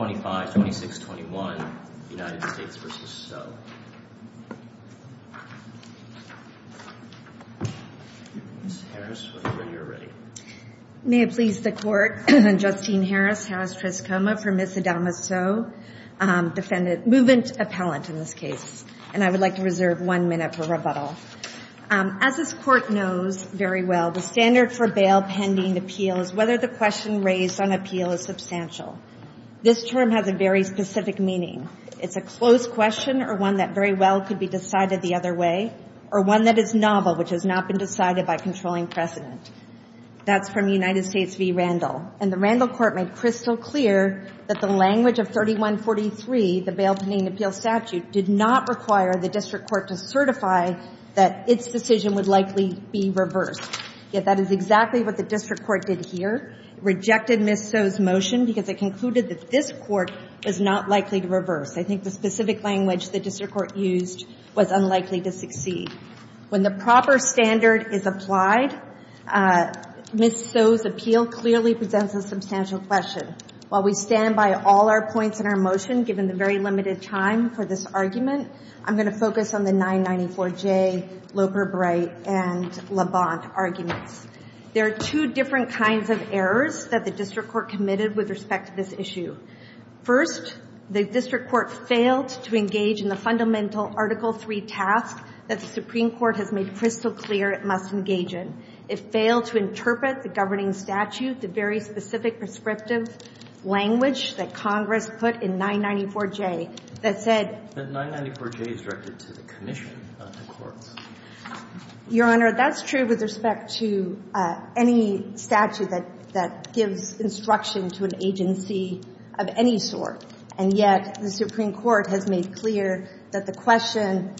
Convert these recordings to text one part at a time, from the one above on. Ms. Harris, when you are ready. May it please the court, Justine Harris, Harris-Triscoma for Ms. Adama Sow, defendant, movement appellant in this case, and I would like to reserve one minute for rebuttal. As this court knows very well, the standard for bail pending appeal is whether the question raised on appeal is substantial. This term has a very specific meaning. It's a closed question or one that very well could be decided the other way, or one that is novel, which has not been decided by controlling precedent. That's from United States v. Randall. And the Randall court made crystal clear that the language of 3143, the bail pending appeal statute, did not require the district court to certify that its decision would likely be reversed. Yet that is exactly what the district court did here. It rejected Ms. Sow's motion because it concluded that this court was not likely to reverse. I think the specific language the district court used was unlikely to succeed. When the proper standard is applied, Ms. Sow's appeal clearly presents a substantial question. While we stand by all our points in our motion, given the very limited time for this argument, I'm going to focus on the 994J, Loper-Bright, and Labonte arguments. There are two different kinds of errors that the district court committed with respect to this issue. First, the district court failed to engage in the fundamental Article III task that the Supreme Court has made crystal clear it must engage in. It failed to interpret the governing statute, the very specific prescriptive language that Congress put in 994J that said that 994J is directed to the commission, not the courts. Your Honor, that's true with respect to any statute that gives instruction to an agency of any sort. And yet the Supreme Court has made clear that the question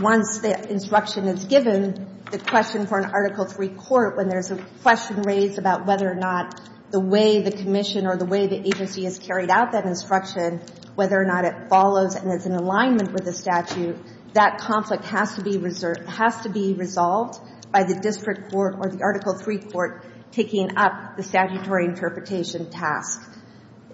once the instruction is given, the question for an Article III court when there's a question raised about whether or not the way the commission or the way the agency has carried out that instruction, whether or not it follows and is in alignment with the statute, that conflict has to be resolved by the district court or the Article III court taking up the statutory interpretation task.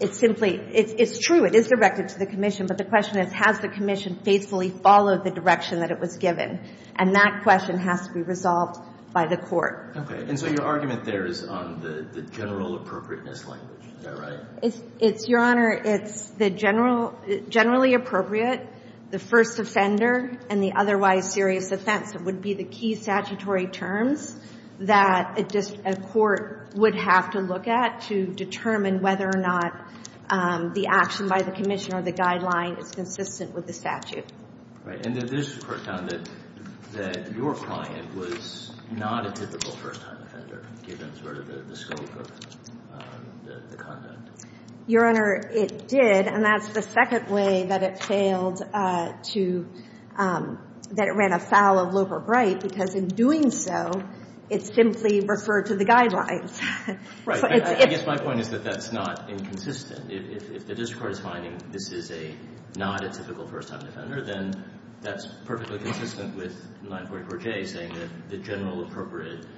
It's simply — it's true, it is directed to the commission, but the question is, has the commission faithfully followed the direction that it was given? And that question has to be resolved by the court. Okay. And so your argument there is on the general appropriateness language. Is that right? It's — your Honor, it's the general — generally appropriate, the first offender and the otherwise serious offense would be the key statutory terms that a court would have to look at to determine whether or not the action by the commission or the guideline is consistent with the statute. Right. And the district court found that your client was not a typical first-time offender, given sort of the scope of the content. Your Honor, it did, and that's the second way that it failed to — that it ran afoul of Loeb or Bright, because in doing so, it simply referred to the guidelines. Right. I guess my point is that that's not inconsistent. If the district court is finding this is a — not a typical first-time offender, then that's perfectly consistent with 944J saying that the general appropriate —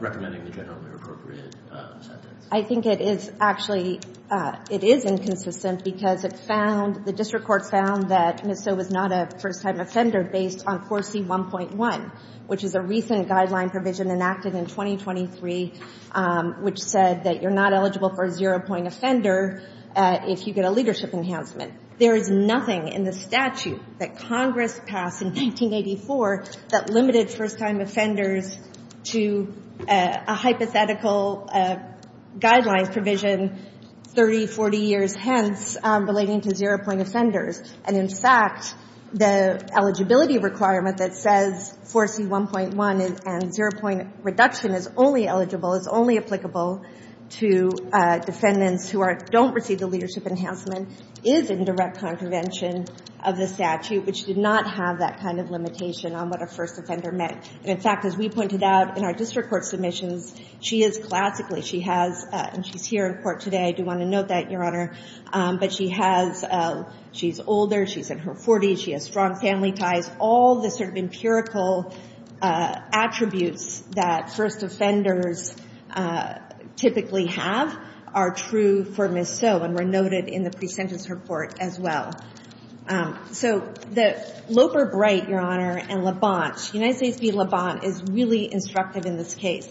recommending the generally appropriate sentence. I think it is actually — it is inconsistent because it found — the district court found that Ms. So was not a first-time offender based on 4C1.1, which is a recent guideline provision enacted in 2023, which said that you're not eligible for a zero-point offender if you get a leadership enhancement. There is nothing in the statute that Congress passed in 1984 that limited first-time offenders to a hypothetical guideline provision 30, 40 years hence relating to zero-point offenders. And in fact, the eligibility requirement that says 4C1.1 and zero-point reduction is only eligible, is only applicable to defendants who don't receive the leadership enhancement, is in direct contravention of the statute. But she did not have that kind of limitation on what a first offender meant. And in fact, as we pointed out in our district court submissions, she is classically — she has — and she's here in court today. I do want to note that, Your Honor. But she has — she's older. She's in her 40s. She has strong family ties. All the sort of empirical attributes that first offenders typically have are true for Ms. So and were noted in the pre-sentence report as well. So the — Loper-Bright, Your Honor, and Labonte — United States v. Labonte — is really instructive in this case.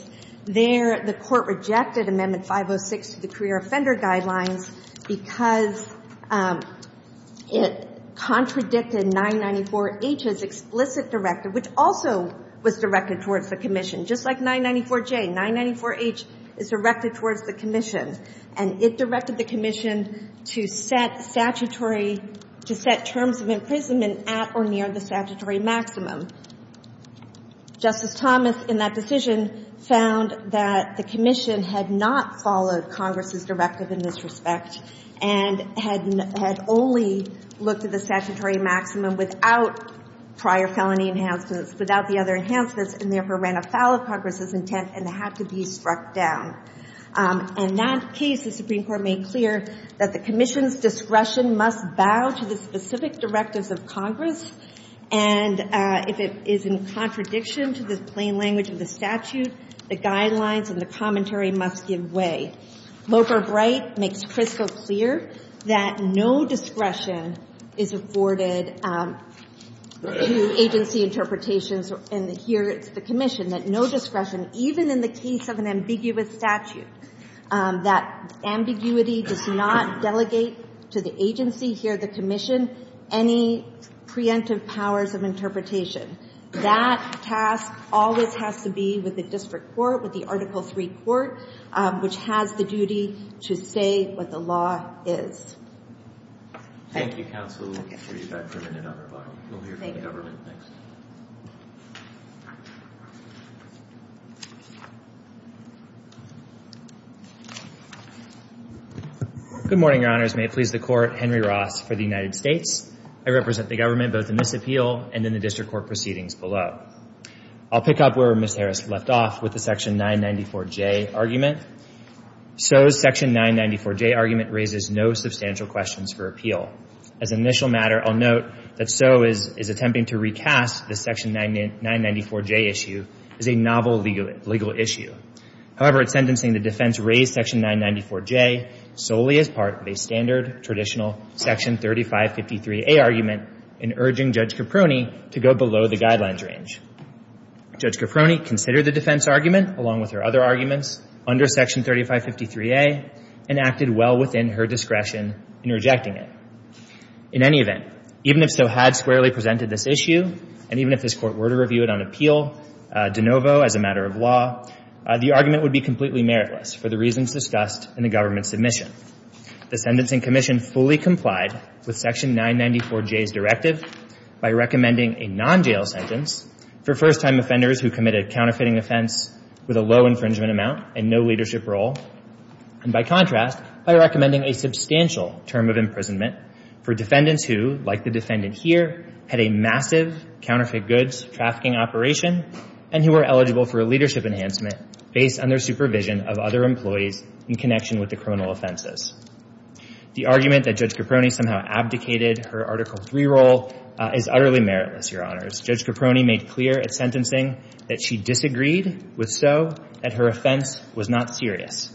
There, the court rejected Amendment 506 to the Career Offender Guidelines because it contradicted 994H's explicit directive, which also was directed towards the commission. Just like 994J, 994H is directed towards the commission. And it directed the commission to set statutory — to set terms of imprisonment at or near the statutory maximum. Justice Thomas, in that decision, found that the commission had not followed Congress's directive in this respect and had only looked at the statutory maximum without prior felony enhancements, without the other enhancements, and therefore ran afoul of Congress's intent and had to be struck down. In that case, the Supreme Court made clear that the commission's discretion must bow to the specific directives of Congress. And if it is in contradiction to the plain language of the statute, the guidelines and the commentary must give way. Loper-Bright makes crystal clear that no discretion is afforded to agency interpretations and here it's the commission, that no discretion, even in the case of an ambiguous statute, that ambiguity does not delegate to the agency, here the commission, any preemptive powers of interpretation. That task always has to be with the district court, with the Article III court, which has the duty to say what the law is. Thank you, counsel. We'll hear from the government next. Good morning, Your Honors. May it please the Court, Henry Ross for the United States. I represent the government both in this appeal and in the district court proceedings below. I'll pick up where Ms. Harris left off with the Section 994J argument. So's Section 994J argument raises no substantial questions for appeal. As an initial matter, I'll note that So is attempting to recast the Section 994J issue as a novel legal issue. However, in sentencing, the defense raised Section 994J solely as part of a standard, traditional Section 3553A argument in urging Judge Caproni to go below the guidelines range. Judge Caproni considered the defense argument, along with her other arguments, under Section 3553A and acted well within her discretion in rejecting it. In any event, even if So had squarely presented this issue, and even if this Court were to review it on appeal de novo as a matter of law, the argument would be completely meritless for the reasons discussed in the government's submission. The Sentencing Commission fully complied with Section 994J's directive by recommending a non-jail sentence for first-time offenders who committed a counterfeiting offense with a low infringement amount and no leadership role, and by contrast, by recommending a substantial term of imprisonment for defendants who, like the defendant here, had a massive counterfeit goods trafficking operation and who were eligible for a leadership enhancement based on their supervision of other employees in connection with the criminal offenses. The argument that Judge Caproni somehow abdicated her Article III role is utterly meritless, Your Honors. Judge Caproni made clear at sentencing that she disagreed with So that her offense was not serious.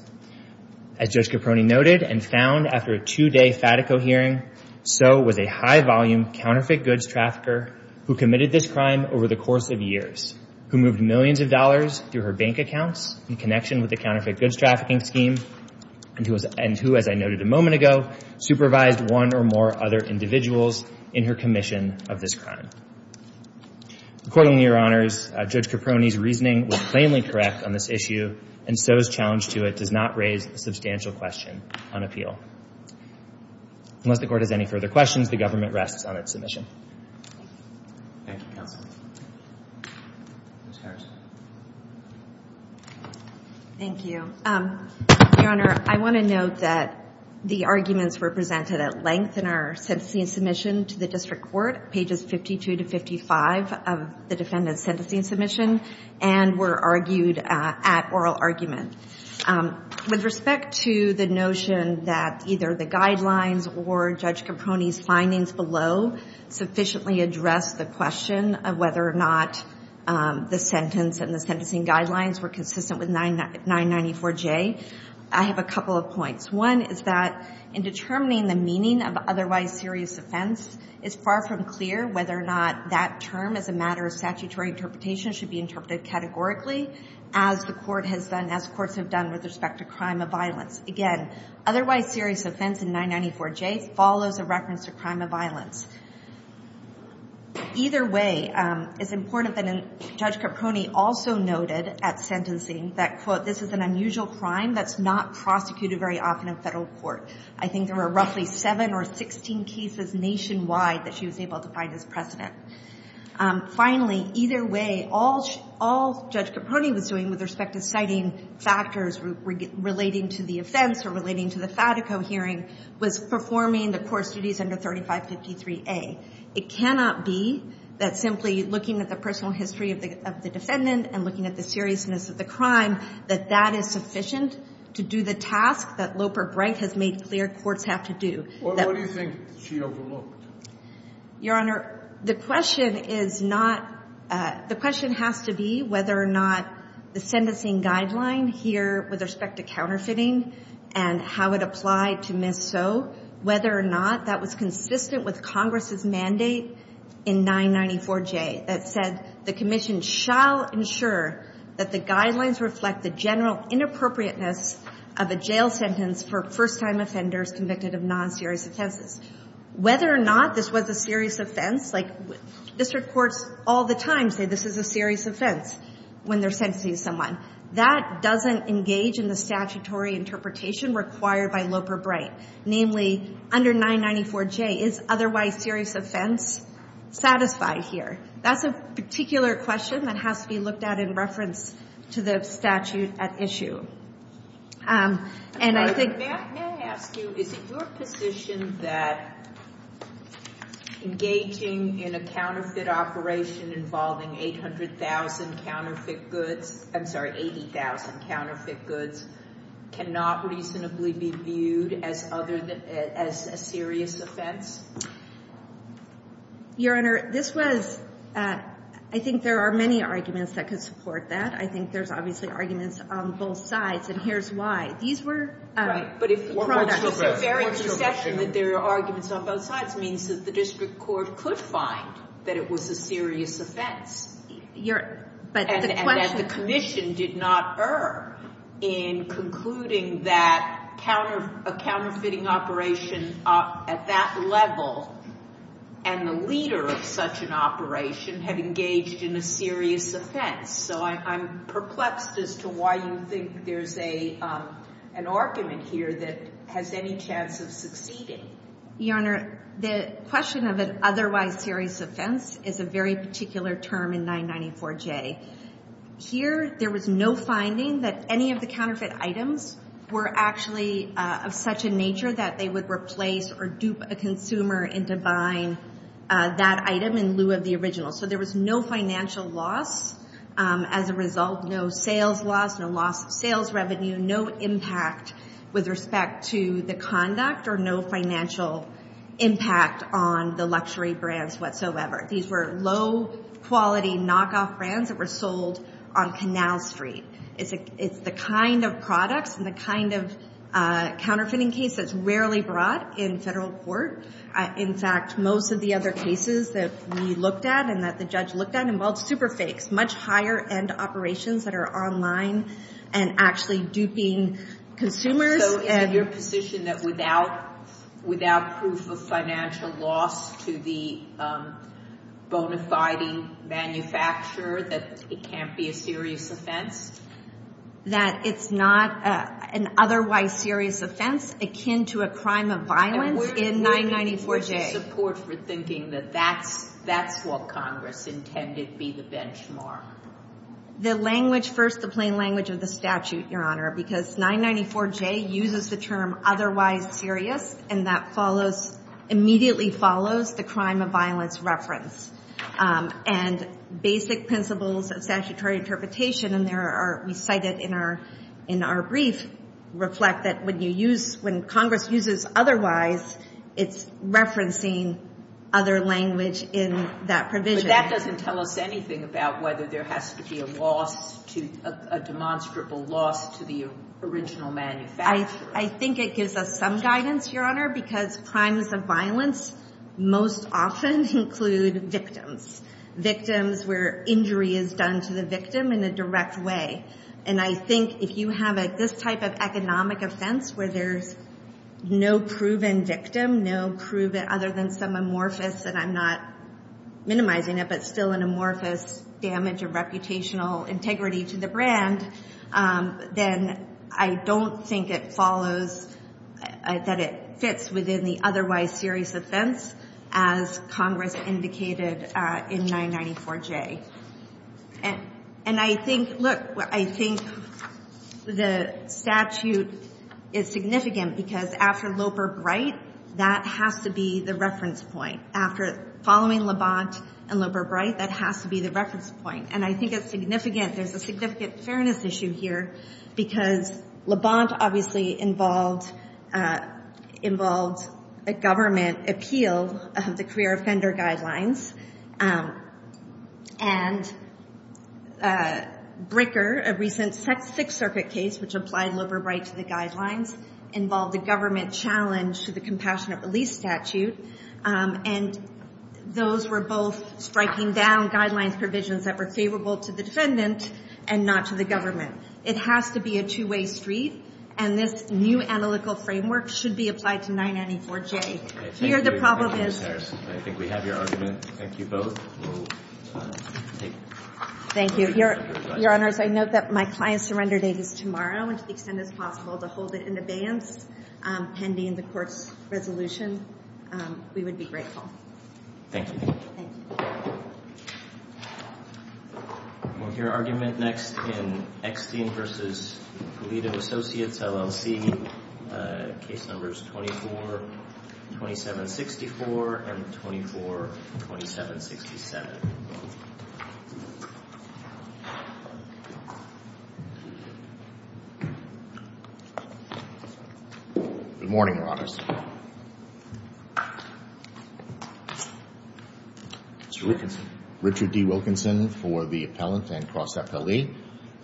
As Judge Caproni noted and found after a two-day Fatico hearing, So was a high-volume counterfeit goods trafficker who committed this crime over the course of years, who moved millions of dollars through her bank accounts in connection with the counterfeit goods trafficking scheme, and who, as I noted a moment ago, supervised one or more other individuals in her commission of this crime. Accordingly, Your Honors, Judge Caproni's reasoning was plainly correct on this issue, and So's challenge to it does not raise a substantial question on appeal. Unless the Court has any further questions, the government rests on its submission. Thank you, Counsel. Ms. Harrison. Thank you. Your Honor, I want to note that the arguments were presented at length in our sentencing submission to the District Court, pages 52 to 55 of the defendant's sentencing submission, and were argued at oral argument. With respect to the notion that either the guidelines or Judge Caproni's findings below sufficiently address the question of whether or not the sentence and the sentencing guidelines were consistent with 994J, I have a couple of points. One is that in determining the meaning of otherwise serious offense, it's far from clear whether or not that term as a matter of statutory interpretation should be interpreted categorically as the Court has done, as courts have done with respect to crime of violence. Again, otherwise serious offense in 994J follows a reference to crime of violence. Either way, it's important that Judge Caproni also noted at sentencing that, quote, this is an unusual crime that's not prosecuted very often in federal court. I think there were roughly 7 or 16 cases nationwide that she was able to find as precedent. Finally, either way, all Judge Caproni was doing with respect to citing factors relating to the offense or relating to the Fatico hearing was performing the court's duties under 3553A. It cannot be that simply looking at the personal history of the defendant and looking at the seriousness of the crime, that that is sufficient to do the task that Loper-Bright has made clear courts have to do. That we think she overlooked. Your Honor, the question is not the question has to be whether or not the sentencing guideline here with respect to counterfeiting and how it applied to Ms. Soe, whether or not that was consistent with Congress's mandate in 994J that said the commission shall ensure that the guidelines reflect the general inappropriateness of a jail sentence for first-time offenders convicted of non-serious offenses. Whether or not this was a serious offense, like district courts all the time say this is a serious offense when they're sentencing someone. That doesn't engage in the statutory interpretation required by Loper-Bright. Namely, under 994J, is otherwise serious offense satisfied here? That's a particular question that has to be looked at in reference to the statute at issue. May I ask you, is it your position that engaging in a counterfeit operation involving 800,000 counterfeit goods, I'm sorry, 80,000 counterfeit goods, cannot reasonably be viewed as a serious offense? Your Honor, this was, I think there are many arguments that could support that. I think there's obviously arguments on both sides, and here's why. Right, but if there are arguments on both sides, it means that the district court could find that it was a serious offense. And that the commission did not err in concluding that a counterfeiting operation at that level and the leader of such an operation had engaged in a serious offense. So I'm perplexed as to why you think there's an argument here that has any chance of succeeding. Your Honor, the question of an otherwise serious offense is a very particular term in 994J. Here, there was no finding that any of the counterfeit items were actually of such a nature that they would replace or dupe a consumer into buying that item in lieu of the original. So there was no financial loss as a result, no sales loss, no loss of sales revenue, no impact with respect to the conduct or no financial impact on the luxury brands whatsoever. These were low-quality knockoff brands that were sold on Canal Street. It's the kind of products and the kind of counterfeiting case that's rarely brought in federal court. In fact, most of the other cases that we looked at and that the judge looked at involved superfakes, much higher-end operations that are online and actually duping consumers. So is it your position that without proof of financial loss to the bona fide manufacturer that it can't be a serious offense? That it's not an otherwise serious offense akin to a crime of violence in 994J. What is your support for thinking that that's what Congress intended be the benchmark? The language first, the plain language of the statute, Your Honor, because 994J uses the term otherwise serious, and that immediately follows the crime of violence reference. And basic principles of statutory interpretation, and we cite it in our brief, reflect that when Congress uses otherwise, it's referencing other language in that provision. But that doesn't tell us anything about whether there has to be a loss, a demonstrable loss to the original manufacturer. I think it gives us some guidance, Your Honor, because crimes of violence most often include victims, victims where injury is done to the victim in a direct way. And I think if you have this type of economic offense where there's no proven victim, no proven other than some amorphous, and I'm not minimizing it, but still an amorphous damage of reputational integrity to the brand, then I don't think it follows that it fits within the otherwise serious offense as Congress indicated in 994J. And I think, look, I think the statute is significant because after Loper-Bright, that has to be the reference point. After following Labonte and Loper-Bright, that has to be the reference point. And I think it's significant, there's a significant fairness issue here because Labonte obviously involved a government appeal of the career offender guidelines, and Bricker, a recent Sixth Circuit case which applied Loper-Bright to the guidelines, involved a government challenge to the compassionate release statute, and those were both striking down guidelines provisions that were favorable to the defendant and not to the government. It has to be a two-way street, and this new analytical framework should be applied to 994J. I think we have your argument, thank you both. Thank you. Your Honors, I note that my client's surrender date is tomorrow, and to the extent it's possible to hold it in abeyance pending the court's resolution, we would be grateful. Thank you. Thank you. We'll hear argument next in Ekstein v. Pulido Associates, LLC, case numbers 242764 and 242767. Good morning, Your Honors. Mr. Wilkinson. Richard D. Wilkinson for the appellant and cross-appellee.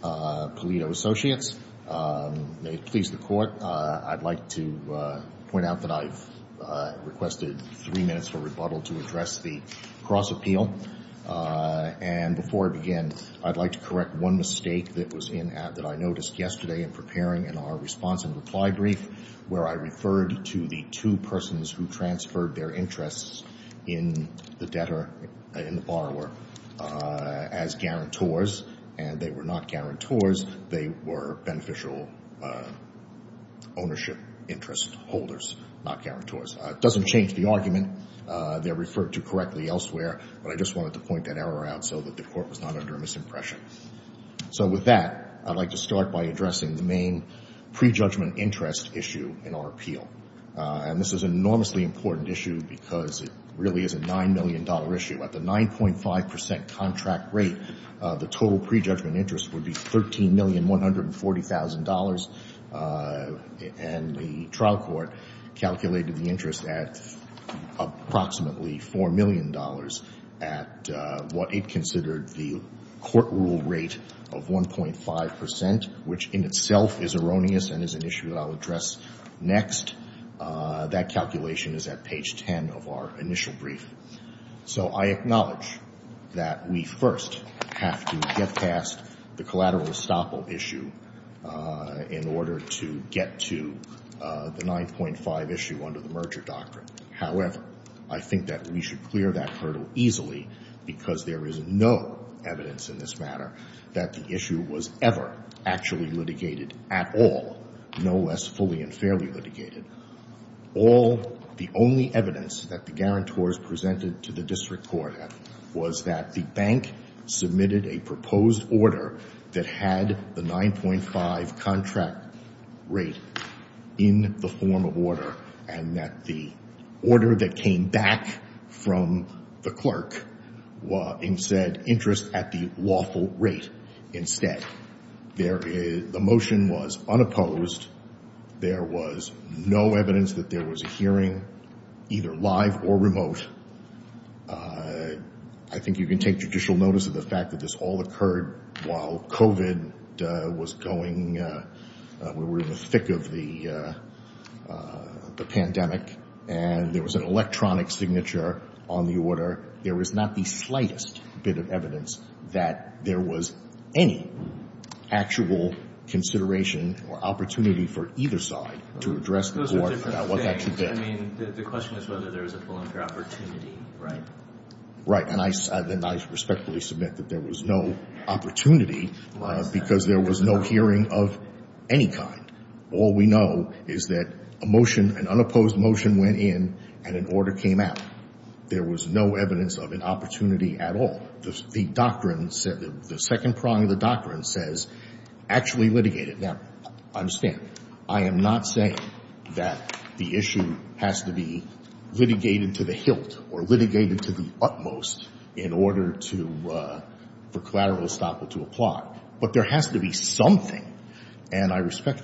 Pulido Associates. May it please the Court, I'd like to point out that I've requested three minutes for rebuttal to address the cross-appeal, and before I begin, I'd like to correct one mistake that I noticed yesterday in preparing in our response and reply brief where I referred to the two persons who transferred their interests in the debtor, in the borrower, as guarantors, and they were not guarantors. They were beneficial ownership interest holders, not guarantors. It doesn't change the argument. They're referred to correctly elsewhere, but I just wanted to point that error out so that the Court was not under a misimpression. So with that, I'd like to start by addressing the main prejudgment interest issue in our appeal, and this is an enormously important issue because it really is a $9 million issue. At the 9.5% contract rate, the total prejudgment interest would be $13,140,000, and the trial court calculated the interest at approximately $4 million at what it considered the court rule rate of 1.5%, which in itself is erroneous and is an issue that I'll address next. That calculation is at page 10 of our initial brief. So I acknowledge that we first have to get past the collateral estoppel issue in order to get to the 9.5 issue under the merger doctrine. However, I think that we should clear that hurdle easily because there is no evidence in this matter that the issue was ever actually litigated at all, no less fully and fairly litigated. The only evidence that the guarantors presented to the district court was that the bank submitted a proposed order that had the 9.5% contract rate in the form of order and that the order that came back from the clerk said interest at the lawful rate instead. The motion was unopposed. There was no evidence that there was a hearing, either live or remote. I think you can take judicial notice of the fact that this all occurred while COVID was going. We were in the thick of the pandemic, and there was an electronic signature on the order. There was not the slightest bit of evidence that there was any actual consideration or opportunity for either side to address the board about what that should be. I mean, the question is whether there was a full and fair opportunity, right? Right, and I respectfully submit that there was no opportunity because there was no hearing of any kind. All we know is that a motion, an unopposed motion went in and an order came out. There was no evidence of an opportunity at all. The doctrine said that the second prong of the doctrine says actually litigated. Now, understand, I am not saying that the issue has to be litigated to the hilt or litigated to the utmost in order for collateral estoppel to apply. But there has to be something, and I respectfully.